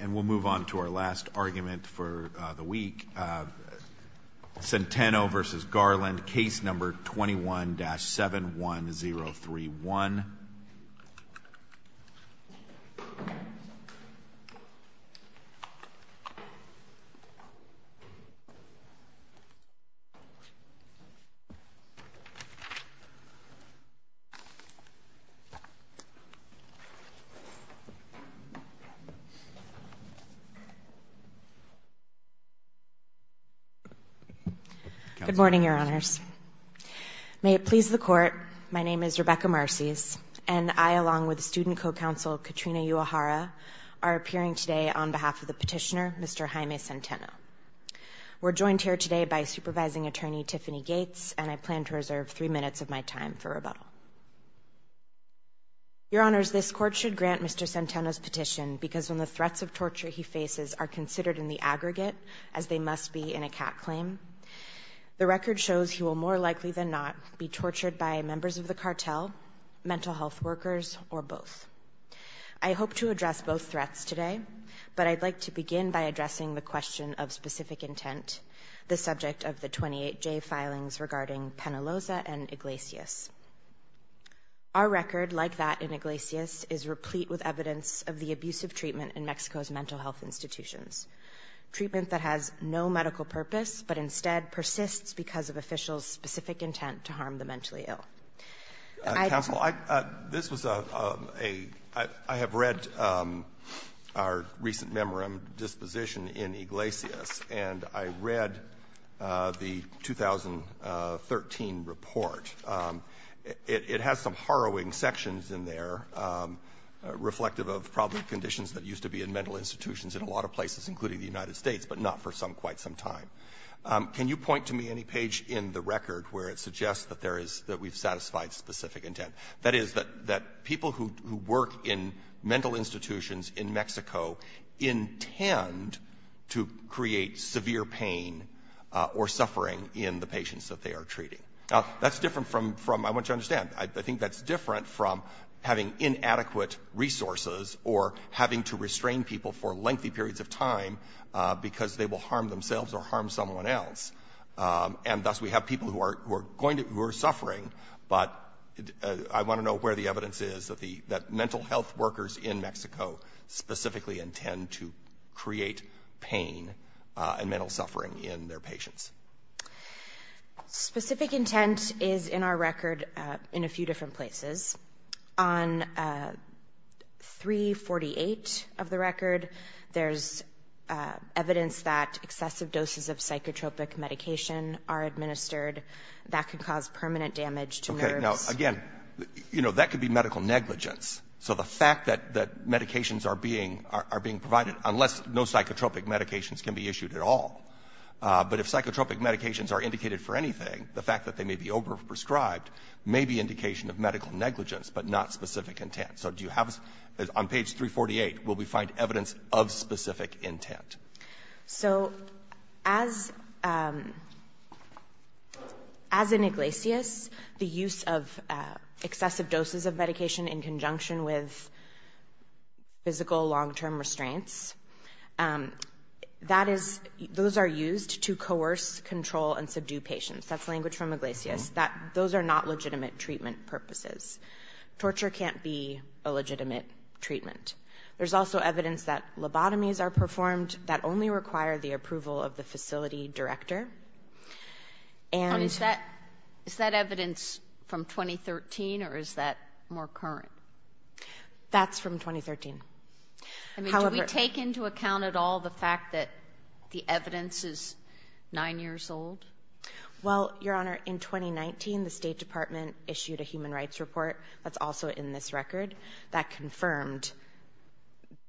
And we'll move on to our last argument for the week. Centeno v. Garland, case number 21-71031. Good morning, Your Honors. May it please the Court, my name is Rebecca Marcys, and I, along with Student Co-Counsel Katrina Uehara, are appearing today on behalf of the petitioner, Mr. Jaime Centeno. We're joined here today by Supervising Attorney Tiffany Gates, and I plan to reserve three minutes of my time for rebuttal. Your Honors, this Court should grant Mr. Centeno's petition because when the threats of torture he faces are considered in the aggregate, as they must be in a CAT claim, the record shows he will more likely than not be tortured by members of the cartel, mental health workers, or both. I hope to address both threats today, but I'd like to begin by addressing the question of specific intent, the subject of the 28J filings regarding Penaloza and Iglesias. Our record, like that in Iglesias, is replete with evidence of the abusive treatment in Mexico's mental health institutions, treatment that has no medical purpose, but instead persists because of officials' specific intent to harm the mentally ill. I don't think that's the case. I have read our recent memorandum disposition in Iglesias, and I read the 2013 report. It has some harrowing sections in there, reflective of probably conditions that used to be in mental institutions in a lot of places, including the United States, but not for quite some time. Can you point to me any page in the record where it suggests that we've satisfied specific intent? That is, that people who work in mental institutions in Mexico intend to create severe pain or suffering in the patients that they are treating. Now, that's different from, I want you to understand, I think that's different from having inadequate resources or having to restrain people for lengthy periods of time because they will harm themselves or harm someone else. And thus, we have people who are suffering, but I want to know where the evidence is that mental health workers in Mexico specifically intend to create pain and mental suffering in their patients. Specific intent is in our record in a few different places. On 348 of the record, there's evidence that excessive doses of psychotropic medication are administered. That could cause permanent damage to nerves. Okay. Now, again, you know, that could be medical negligence. So the fact that medications are being provided, unless no psychotropic medications can be issued at all, but if psychotropic medications are indicated for anything, the fact that they may be overprescribed may be indication of medical negligence but not specific intent. So do you have, on page 348, will we find evidence of specific intent? So as in Iglesias, the use of excessive doses of medication in conjunction with physical long-term restraints, that is, those are used to coerce, control, and subdue patients. That's language from Iglesias. Those are not legitimate treatment purposes. Torture can't be a legitimate treatment. There's also evidence that lobotomies are performed that only require the approval of the facility director. And is that evidence from 2013, or is that more current? That's from 2013. Do we take into account at all the fact that the evidence is nine years old? Well, Your Honor, in 2019, the State Department issued a human rights report that's also in this record that confirmed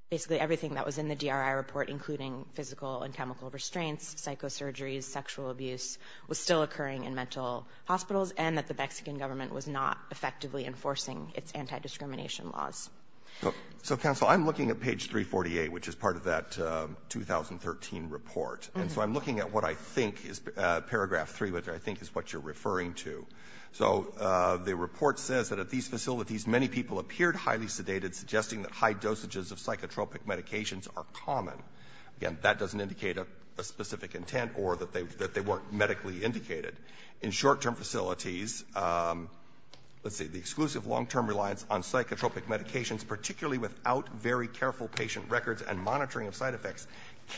basically everything that was in the DRI report, including physical and chemical restraints, psychosurgeries, sexual abuse was still occurring in mental hospitals, and that the Mexican government was not effectively enforcing its anti-discrimination laws. So, counsel, I'm looking at page 348, which is part of that 2013 report. And so I'm looking at what I think is paragraph 3, which I think is what you're referring to. So the report says that at these facilities, many people appeared highly sedated, suggesting that high dosages of psychotropic medications are common. Again, that doesn't indicate a specific intent or that they weren't medically indicated. In short-term facilities, let's see, the exclusive long-term reliance on psychotropic medications, particularly without very careful patient records and monitoring of side effects,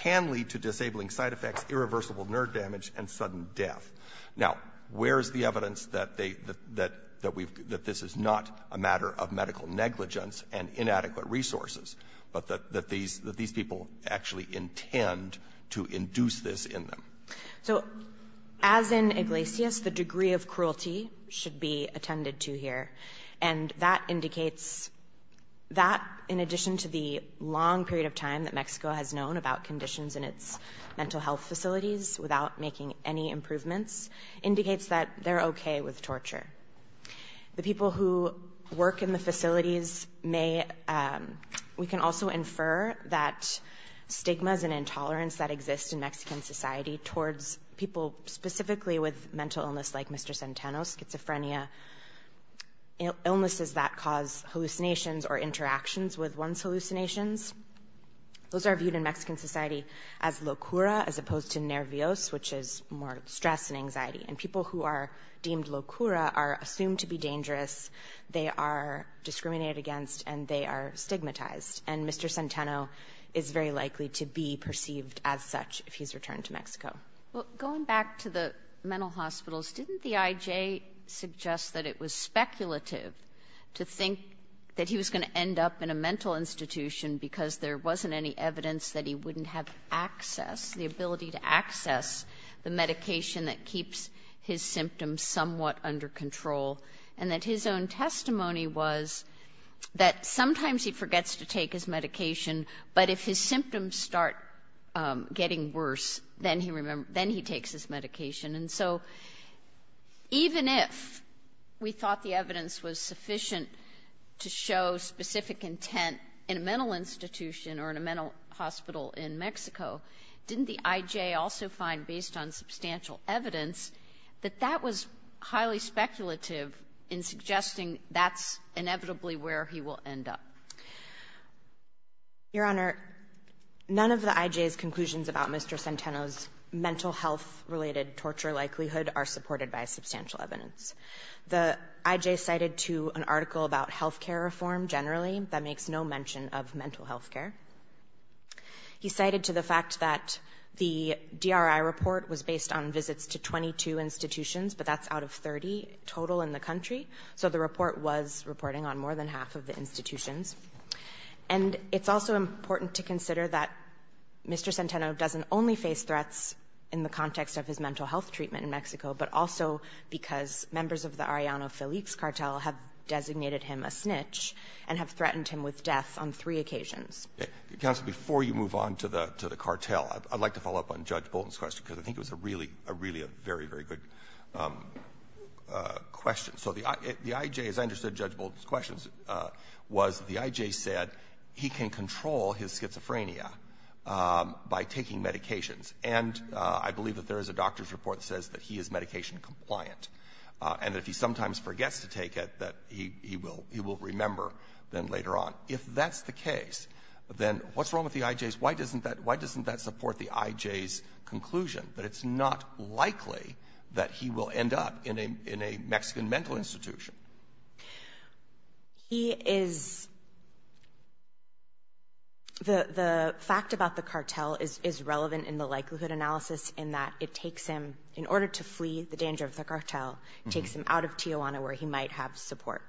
can lead to disabling side effects, irreversible nerve damage, and sudden death. Now, where is the evidence that this is not a matter of medical negligence and inadequate resources, but that these people actually intend to induce this in them? So, as in Iglesias, the degree of cruelty should be attended to here. And that indicates that, in addition to the long period of time that Mexico has known about conditions in its mental health facilities without making any improvements, indicates that they're okay with torture. The people who work in the facilities may – we can also infer that stigmas and anxiety towards people specifically with mental illness like Mr. Centeno, schizophrenia, illnesses that cause hallucinations or interactions with one's hallucinations, those are viewed in Mexican society as locura as opposed to nervios, which is more stress and anxiety. And people who are deemed locura are assumed to be dangerous, they are discriminated against, and they are stigmatized. And Mr. Centeno is very likely to be perceived as such if he's returned to Mexico. Kagan. Well, going back to the mental hospitals, didn't the IJ suggest that it was speculative to think that he was going to end up in a mental institution because there wasn't any evidence that he wouldn't have access, the ability to access the medication that keeps his symptoms somewhat under control, and that his own testimony was that sometimes he forgets to take his medication, but if his symptoms start getting worse, then he takes his medication. And so even if we thought the evidence was sufficient to show specific intent in a mental institution or in a mental hospital in Mexico, didn't the IJ also find, based on substantial evidence, that that was highly speculative in suggesting that's inevitably where he will end up? Your Honor, none of the IJ's conclusions about Mr. Centeno's mental health-related torture likelihood are supported by substantial evidence. The IJ cited to an article about health care reform generally that makes no mention of mental health care. He cited to the fact that the DRI report was based on visits to 22 institutions, but that's out of 30 total in the country, so the report was reporting on more than half of the institutions. And it's also important to consider that Mr. Centeno doesn't only face threats in the context of his mental health treatment in Mexico, but also because members of the Arellano-Felix cartel have designated him a snitch and have threatened him with death on three occasions. Alito, before you move on to the cartel, I'd like to follow up on Judge Bolton's question, because I think it was a really, really a very, very good question. So the IJ, as I understood Judge Bolton's questions, was the IJ said he can control his schizophrenia by taking medications. And I believe that there is a doctor's report that says that he is medication compliant, and that if he sometimes forgets to take it, that he will remember then later on. If that's the case, then what's wrong with the IJ's? Why doesn't that support the IJ's conclusion that it's not likely that he will end up in a Mexican mental institution? He is the fact about the cartel is relevant in the likelihood analysis in that it takes him, in order to flee the danger of the cartel, takes him out of Tijuana where he might have support.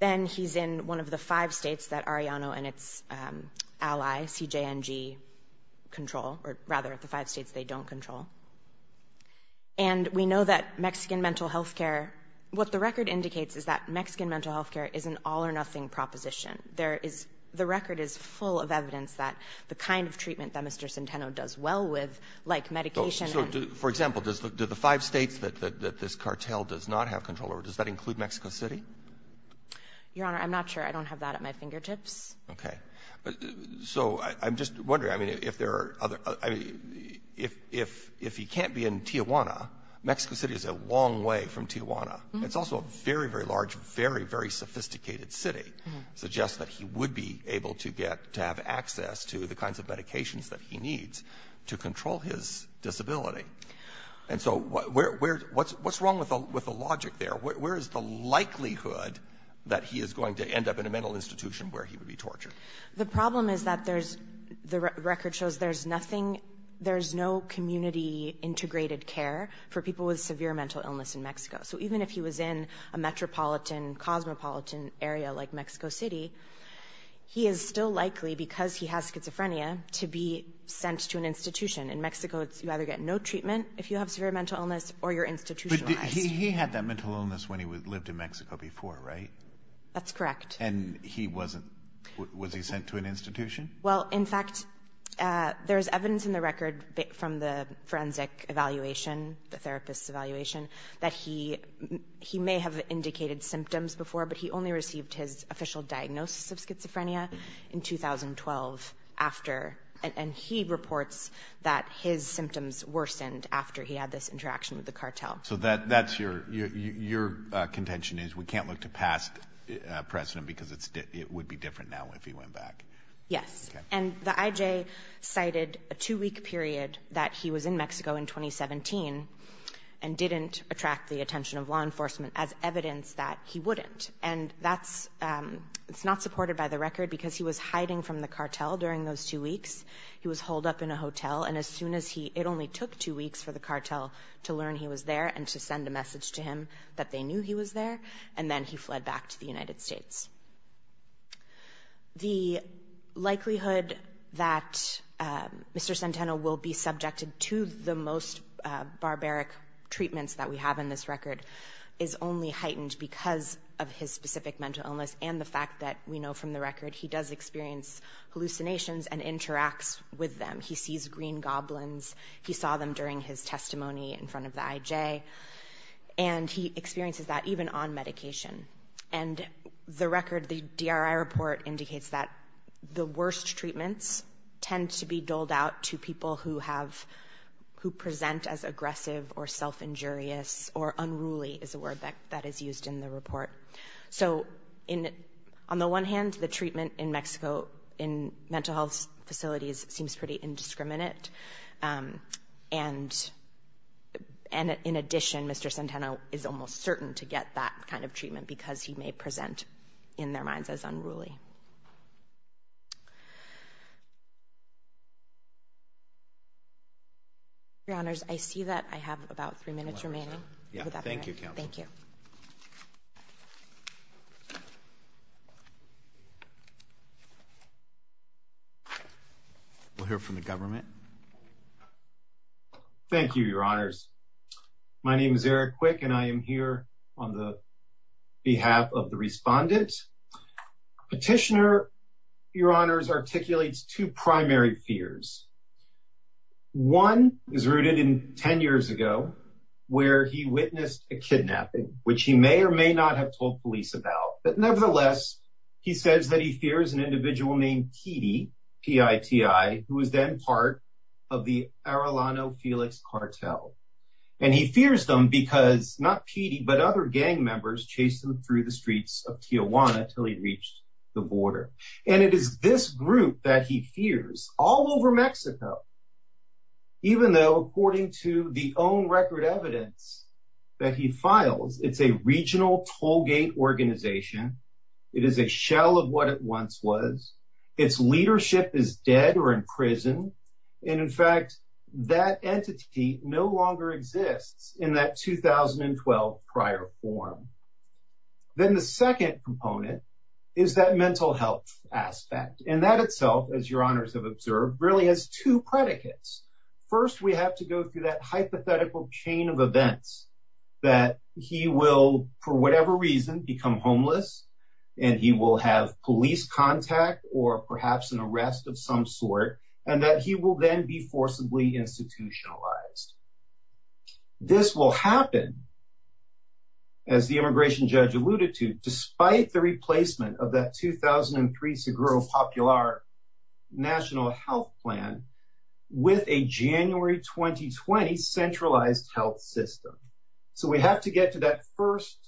Then he's in one of the five states that Arellano and its ally, CJNG, control, or rather the five states they don't control. And we know that Mexican mental health care, what the record indicates is that Mexican mental health care is an all-or-nothing proposition. There is the record is full of evidence that the kind of treatment that Mr. Centeno does well with, like medication For example, do the five states that this cartel does not have control over, does that include Mexico City? Your Honor, I'm not sure. I don't have that at my fingertips. Okay. So I'm just wondering, I mean, if there are other, I mean, if he can't be in Tijuana, Mexico City is a long way from Tijuana. It's also a very, very large, very, very sophisticated city, suggests that he would be able to get, to have access to the And so where, what's wrong with the logic there? Where is the likelihood that he is going to end up in a mental institution where he would be tortured? The problem is that there's, the record shows there's nothing, there's no community integrated care for people with severe mental illness in Mexico. So even if he was in a metropolitan, cosmopolitan area like Mexico City, he is still likely, because he has schizophrenia, to be sent to an institution. In Mexico, you either get no treatment if you have severe mental illness or you're institutionalized. But he had that mental illness when he lived in Mexico before, right? That's correct. And he wasn't, was he sent to an institution? Well, in fact, there's evidence in the record from the forensic evaluation, the therapist's evaluation, that he may have indicated symptoms before, but he only And he reports that his symptoms worsened after he had this interaction with the cartel. So that's your, your contention is we can't look to past precedent because it's, it would be different now if he went back. Yes. And the IJ cited a two-week period that he was in Mexico in 2017 and didn't attract the attention of law enforcement as evidence that he wouldn't. And that's, it's not supported by the record because he was hiding from the cartel during those two weeks. He was holed up in a hotel. And as soon as he, it only took two weeks for the cartel to learn he was there and to send a message to him that they knew he was there. And then he fled back to the United States. The likelihood that Mr. Centeno will be subjected to the most barbaric treatments that we have in this record is only heightened because of his specific mental illness and the fact that we know from the record he does experience hallucinations and interacts with them. He sees green goblins. He saw them during his testimony in front of the IJ. And he experiences that even on medication. And the record, the DRI report, indicates that the worst treatments tend to be injurious or unruly is a word that is used in the report. So on the one hand, the treatment in Mexico in mental health facilities seems pretty indiscriminate. And in addition, Mr. Centeno is almost certain to get that kind of treatment because he may present in their minds as unruly. Your Honors, I see that I have about three minutes remaining. Thank you, Counsel. Thank you. We'll hear from the government. Thank you, Your Honors. My name is Eric Quick, and I am here on the behalf of the respondent. Petitioner, Your Honors, articulates two primary fears. One is rooted in 10 years ago where he witnessed a kidnapping, which he may or may not have told police about. But nevertheless, he says that he fears an individual named Petey, P-I-T-E-Y, who was then part of the Arellano Felix cartel. And he fears them because not Petey, but other gang members chased him through the streets of Tijuana until he reached the border. And it is this group that he fears all over Mexico, even though according to the own record evidence that he files, it's a regional tollgate organization. It is a shell of what it once was. Its leadership is dead or in prison. And in fact, that entity no longer exists in that 2012 prior form. Then the second component is that mental health aspect. And that itself, as Your Honors have observed, really has two predicates. First, we have to go through that hypothetical chain of events that he will, for whatever reason, become homeless, and he will have police contact or perhaps an arrest of some sort. And that he will then be forcibly institutionalized. This will happen, as the immigration judge alluded to, despite the replacement of that 2003 Seguro Popular National Health Plan with a January 2020 centralized health system. So we have to get to that first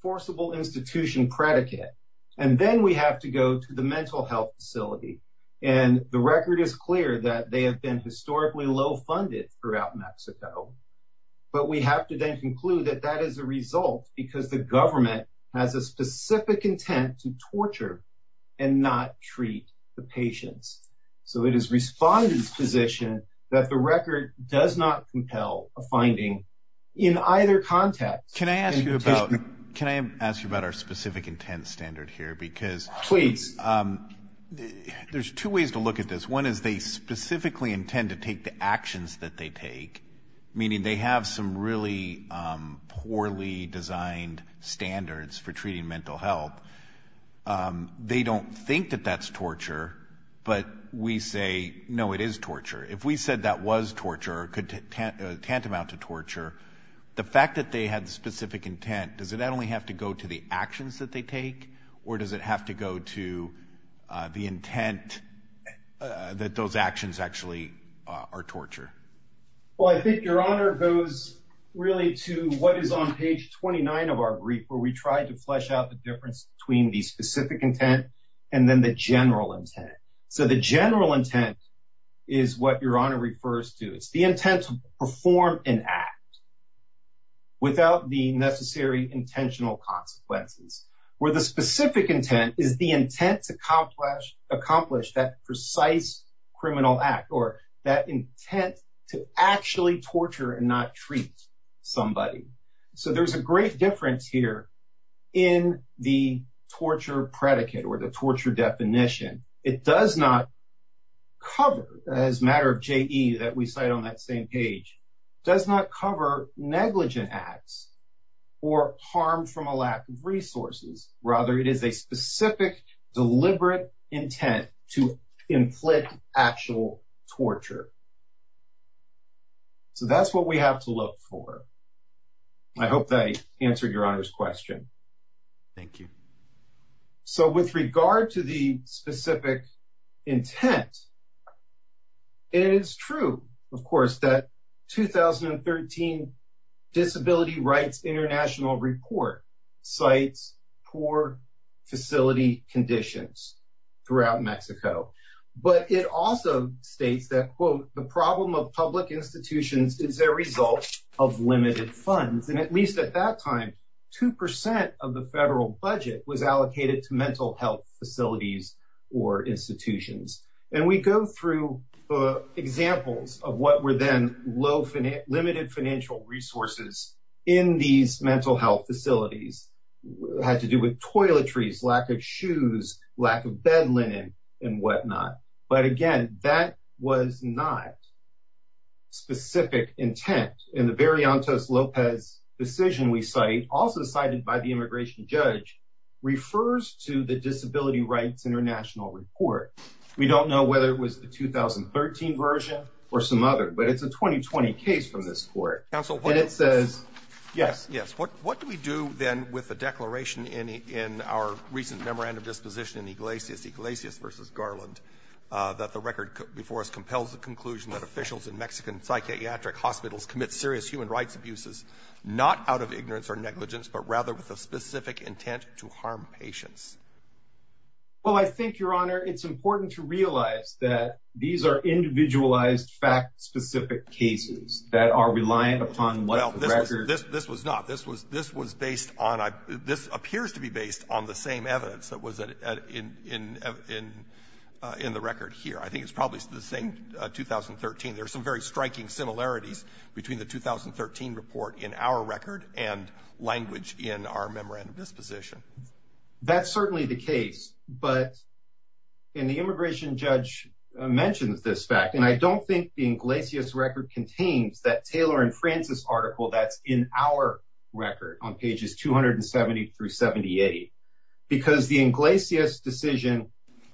forcible institution predicate. And then we have to go to the mental health facility. And the record is clear that they have been historically low funded throughout Mexico. But we have to then conclude that that is a result because the government has a specific intent to torture and not treat the patients. So it is Respondent's position that the record does not compel a finding in either context. Can I ask you about our specific intent standard here? Because there's two ways to look at this. One is they specifically intend to take the actions that they take, meaning they have some really poorly designed standards for treating mental health. They don't think that that's torture, but we say, no, it is torture. If we said that was torture or tantamount to torture, the fact that they had specific intent, does it not only have to go to the actions that they take, or does it have to go to the intent that those actions actually are torture? Well, I think Your Honor goes really to what is on page 29 of our brief where we try to flesh out the difference between the specific intent and then the general intent. So the general intent is what Your Honor refers to. It's the intent to perform an act without the necessary intentional consequences. Where the specific intent is the intent to accomplish that precise criminal act or that intent to actually torture and not treat somebody. So there's a great difference here in the torture predicate or the torture definition. It does not cover, as a matter of JE that we cite on that same page, does not cover negligent acts or harm from a lack of resources. Rather, it is a specific deliberate intent to inflict actual torture. So that's what we have to look for. I hope that I answered Your Honor's question. Thank you. So with regard to the specific intent, it is true, of course, that 2013 Disability Rights International Report cites poor facility conditions throughout Mexico. But it also states that, quote, the problem of public institutions is a result of limited funds. And at least at that time, 2% of the federal budget was allocated to mental health facilities or institutions. And we go through examples of what were then limited financial resources in these mental health facilities. It had to do with toiletries, lack of shoes, lack of bed linen, and whatnot. But again, that was not specific intent. And the Bariantos-Lopez decision we cite, also cited by the immigration judge, refers to the Disability Rights International Report. We don't know whether it was the 2013 version or some other, but it's a 2020 case from this court. And it says, yes. Yes. What do we do then with the declaration in our recent memorandum disposition in Iglesias, Iglesias v. Garland, that the record before us compels the conclusion that officials in Mexican psychiatric hospitals commit serious human rights abuses, not out of ignorance or negligence, but rather with a specific intent to harm patients? Well, I think, Your Honor, it's important to realize that these are individualized, fact-specific cases that are reliant upon what the record – Well, this was not. This was based on – this appears to be based on the same evidence that was in the record here. I think it's probably the same 2013. There are some very striking similarities between the 2013 report in our record and language in our memorandum disposition. That's certainly the case. But – and the immigration judge mentions this fact, and I don't think the Iglesias record contains that Taylor and Francis article that's in our record on pages 270 through 78. Because the Iglesias decision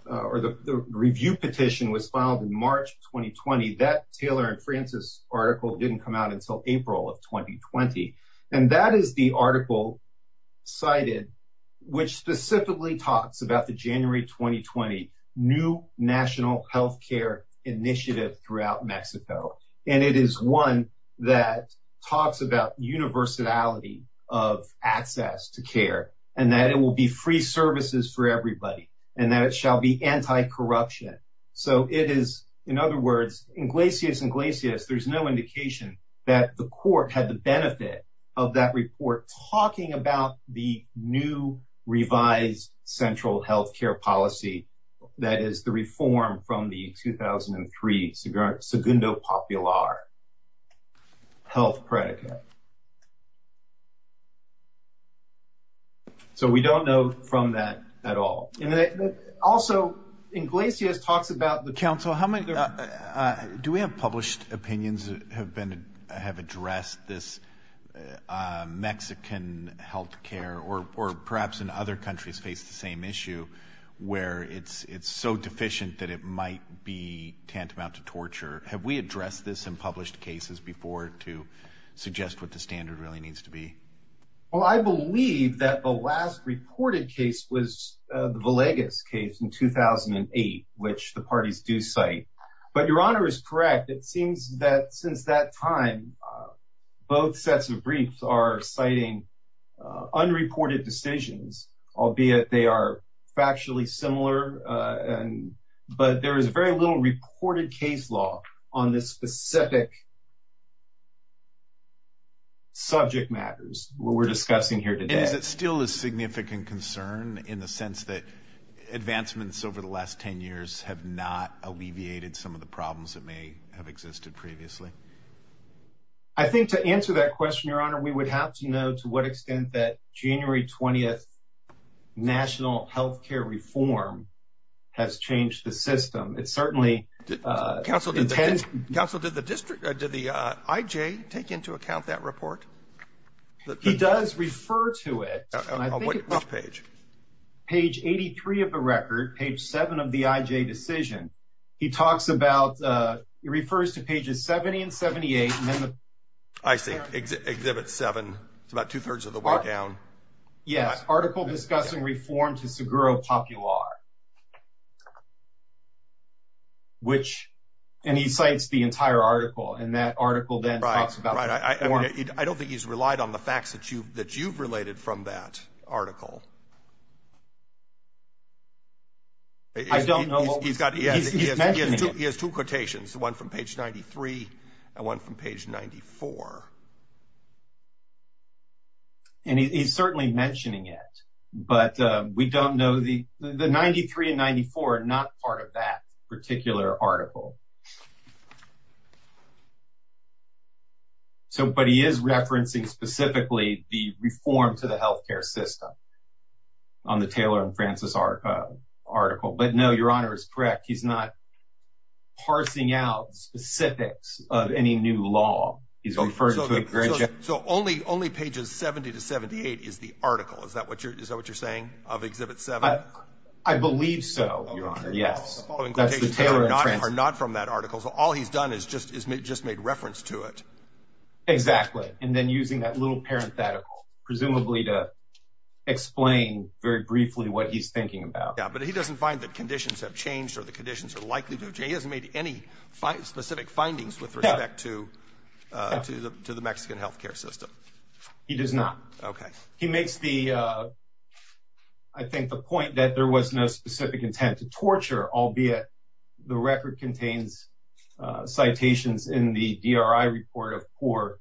or the review petition was filed in March 2020, that Taylor and Francis article didn't come out until April of 2020. And that is the article cited, which specifically talks about the January 2020 New National Healthcare Initiative throughout Mexico. And it is one that talks about universality of access to care and that it will be free services for everybody and that it shall be anti-corruption. So it is – in other words, Iglesias, Iglesias, there's no indication that the court had the benefit of that report talking about the new revised central healthcare policy that is the reform from the 2003 Segundo Popular health predicate. So we don't know from that at all. Also, Iglesias talks about the – Counsel, how many – do we have published opinions that have been – have addressed this Mexican healthcare or perhaps in other countries face the same issue where it's so deficient that it might be tantamount to torture? Have we addressed this in published cases before to suggest what the standard really needs to be? Well, I believe that the last reported case was the Villegas case in 2008, which the parties do cite. But Your Honor is correct. It seems that since that time, both sets of briefs are citing unreported decisions, albeit they are factually similar. But there is very little reported case law on the specific subject matters we're discussing here today. Is it still a significant concern in the sense that advancements over the last 10 years have not alleviated some of the problems that may have existed previously? I think to answer that question, Your Honor, we would have to know to what extent that January 20th national healthcare reform has changed the system. It certainly – Counsel, did the district – did the IJ take into account that report? He does refer to it. On which page? Page 83 of the record, page 7 of the IJ decision. He talks about – he refers to pages 70 and 78. I see. Exhibit 7. It's about two-thirds of the way down. Yes, article discussing reform to Seguro Popular, which – and he cites the entire article, and that article then talks about reform. Right, right. I don't think he's relied on the facts that you've related from that article. I don't know what was – he's mentioning it. He's the one from page 93 and one from page 94. And he's certainly mentioning it, but we don't know the – the 93 and 94 are not part of that particular article. So – but he is referencing specifically the reform to the healthcare system on the Taylor and Francis article. But, no, Your Honor is correct. He's not parsing out specifics of any new law. He's referring to the – So only pages 70 to 78 is the article. Is that what you're saying, of exhibit 7? I believe so, Your Honor, yes. That's the Taylor and Francis. The following quotations are not from that article, so all he's done is just made reference to it. Exactly. And then using that little parenthetical, presumably to explain very briefly what he's thinking about. Yeah, but he doesn't find that conditions have changed or the conditions are likely to change. He hasn't made any specific findings with respect to the Mexican healthcare system. He does not. Okay. He makes the – I think the point that there was no specific intent to torture, albeit the record contains citations in the DRI report of poor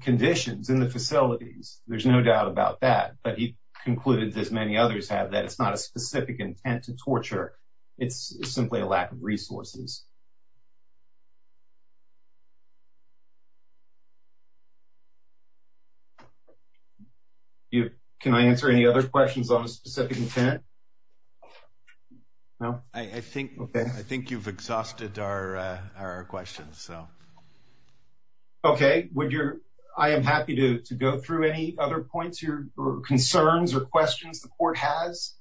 conditions in the facilities. There's no doubt about that. But he concluded, as many others have, that it's not a specific intent to torture. It's simply a lack of resources. Can I answer any other questions on a specific intent? No? I think you've exhausted our questions. Okay. I am happy to go through any other points or concerns or questions the court has.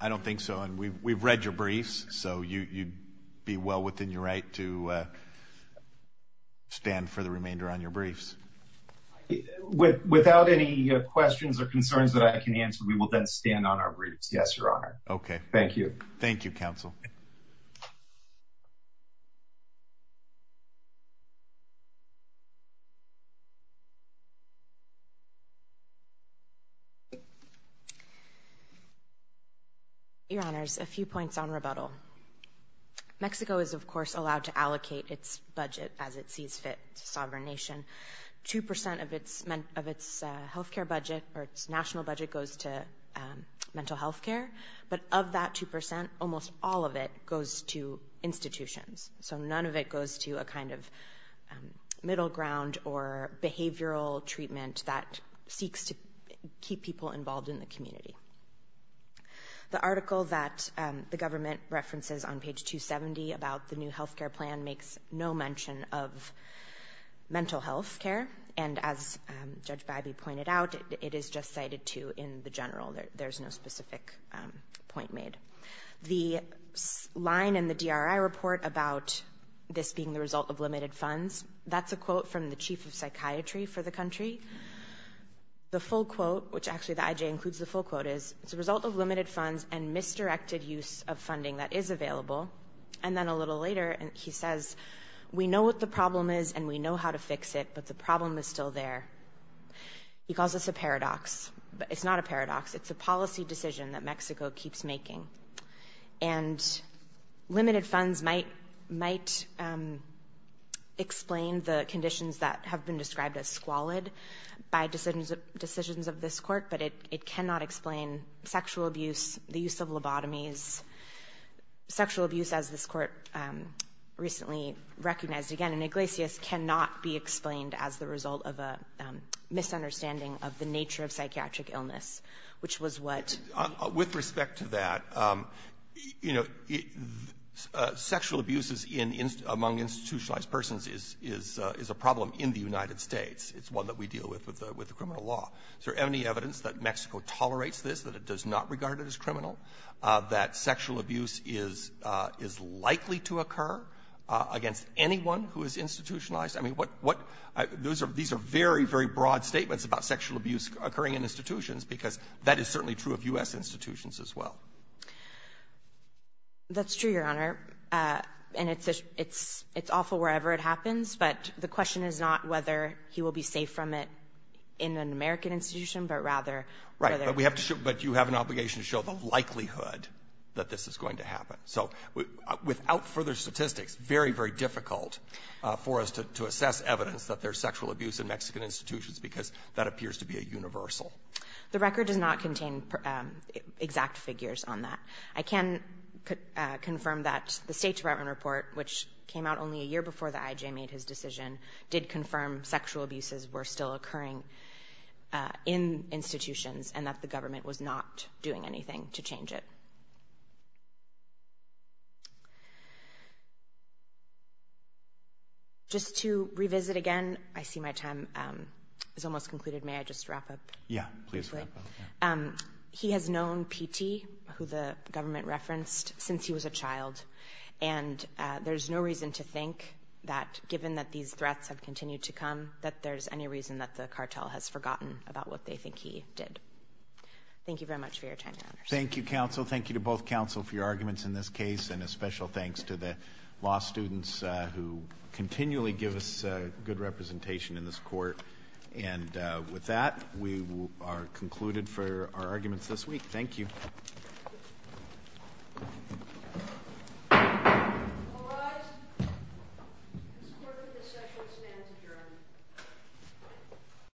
I don't think so. And we've read your briefs, so you'd be well within your right to stand for the remainder on your briefs. Without any questions or concerns that I can answer, we will then stand on our briefs. Yes, Your Honor. Okay. Thank you. Thank you, Counsel. Your Honors, a few points on rebuttal. Mexico is, of course, allowed to allocate its budget as it sees fit to sovereign nation. Two percent of its healthcare budget, or its national budget, goes to mental healthcare. But of that two percent, almost all of it goes to institutions. So none of it goes to a kind of middle ground or behavioral treatment that seeks to keep people involved in the community. The article that the government references on page 270 about the new healthcare plan makes no mention of mental healthcare. And as Judge Biby pointed out, it is just cited to in the general. There's no specific point made. The line in the DRI report about this being the result of limited funds, that's a quote from the chief of psychiatry for the country. The full quote, which actually the IJ includes the full quote, is it's a result of limited funds and misdirected use of funding that is available. And then a little later he says, we know what the problem is and we know how to fix it, but the problem is still there. He calls this a paradox. It's not a paradox. It's a policy decision that Mexico keeps making. And limited funds might explain the conditions that have been described as squalid by decisions of this court, but it cannot explain sexual abuse, the use of lobotomies. Sexual abuse, as this court recently recognized again in Iglesias, cannot be explained as the result of a misunderstanding of the nature of psychiatric illness, which was what? With respect to that, you know, sexual abuse among institutionalized persons is a problem in the United States. It's one that we deal with with the criminal law. Is there any evidence that Mexico tolerates this, that it does not regard it as criminal, that sexual abuse is likely to occur against anyone who is institutionalized? I mean, what these are very, very broad statements about sexual abuse occurring in institutions because that is certainly true of U.S. institutions as well. That's true, Your Honor, and it's awful wherever it happens, but the question is not whether he will be safe from it in an American institution, but rather whether But we have to show, but you have an obligation to show the likelihood that this is going to happen. So without further statistics, very, very difficult for us to assess evidence that there's sexual abuse in Mexican institutions because that appears to be a universal. The record does not contain exact figures on that. I can confirm that the State Department report, which came out only a year before the I.J. made his decision, did confirm sexual abuses were still occurring in institutions and that the government was not doing anything to change it. Just to revisit again, I see my time is almost concluded. May I just wrap up? Yeah, please wrap up. He has known PT, who the government referenced, since he was a child, and there's no reason to think that given that these threats have continued to come that there's any reason that the cartel has forgotten about what they think he did. Thank you very much for your time, Your Honors. Thank you, counsel. Thank you to both counsel for your arguments in this case, and a special thanks to the law students who continually give us good representation in this court. And with that, we are concluded for our arguments this week. Thank you. All rise. This court for this session stands adjourned.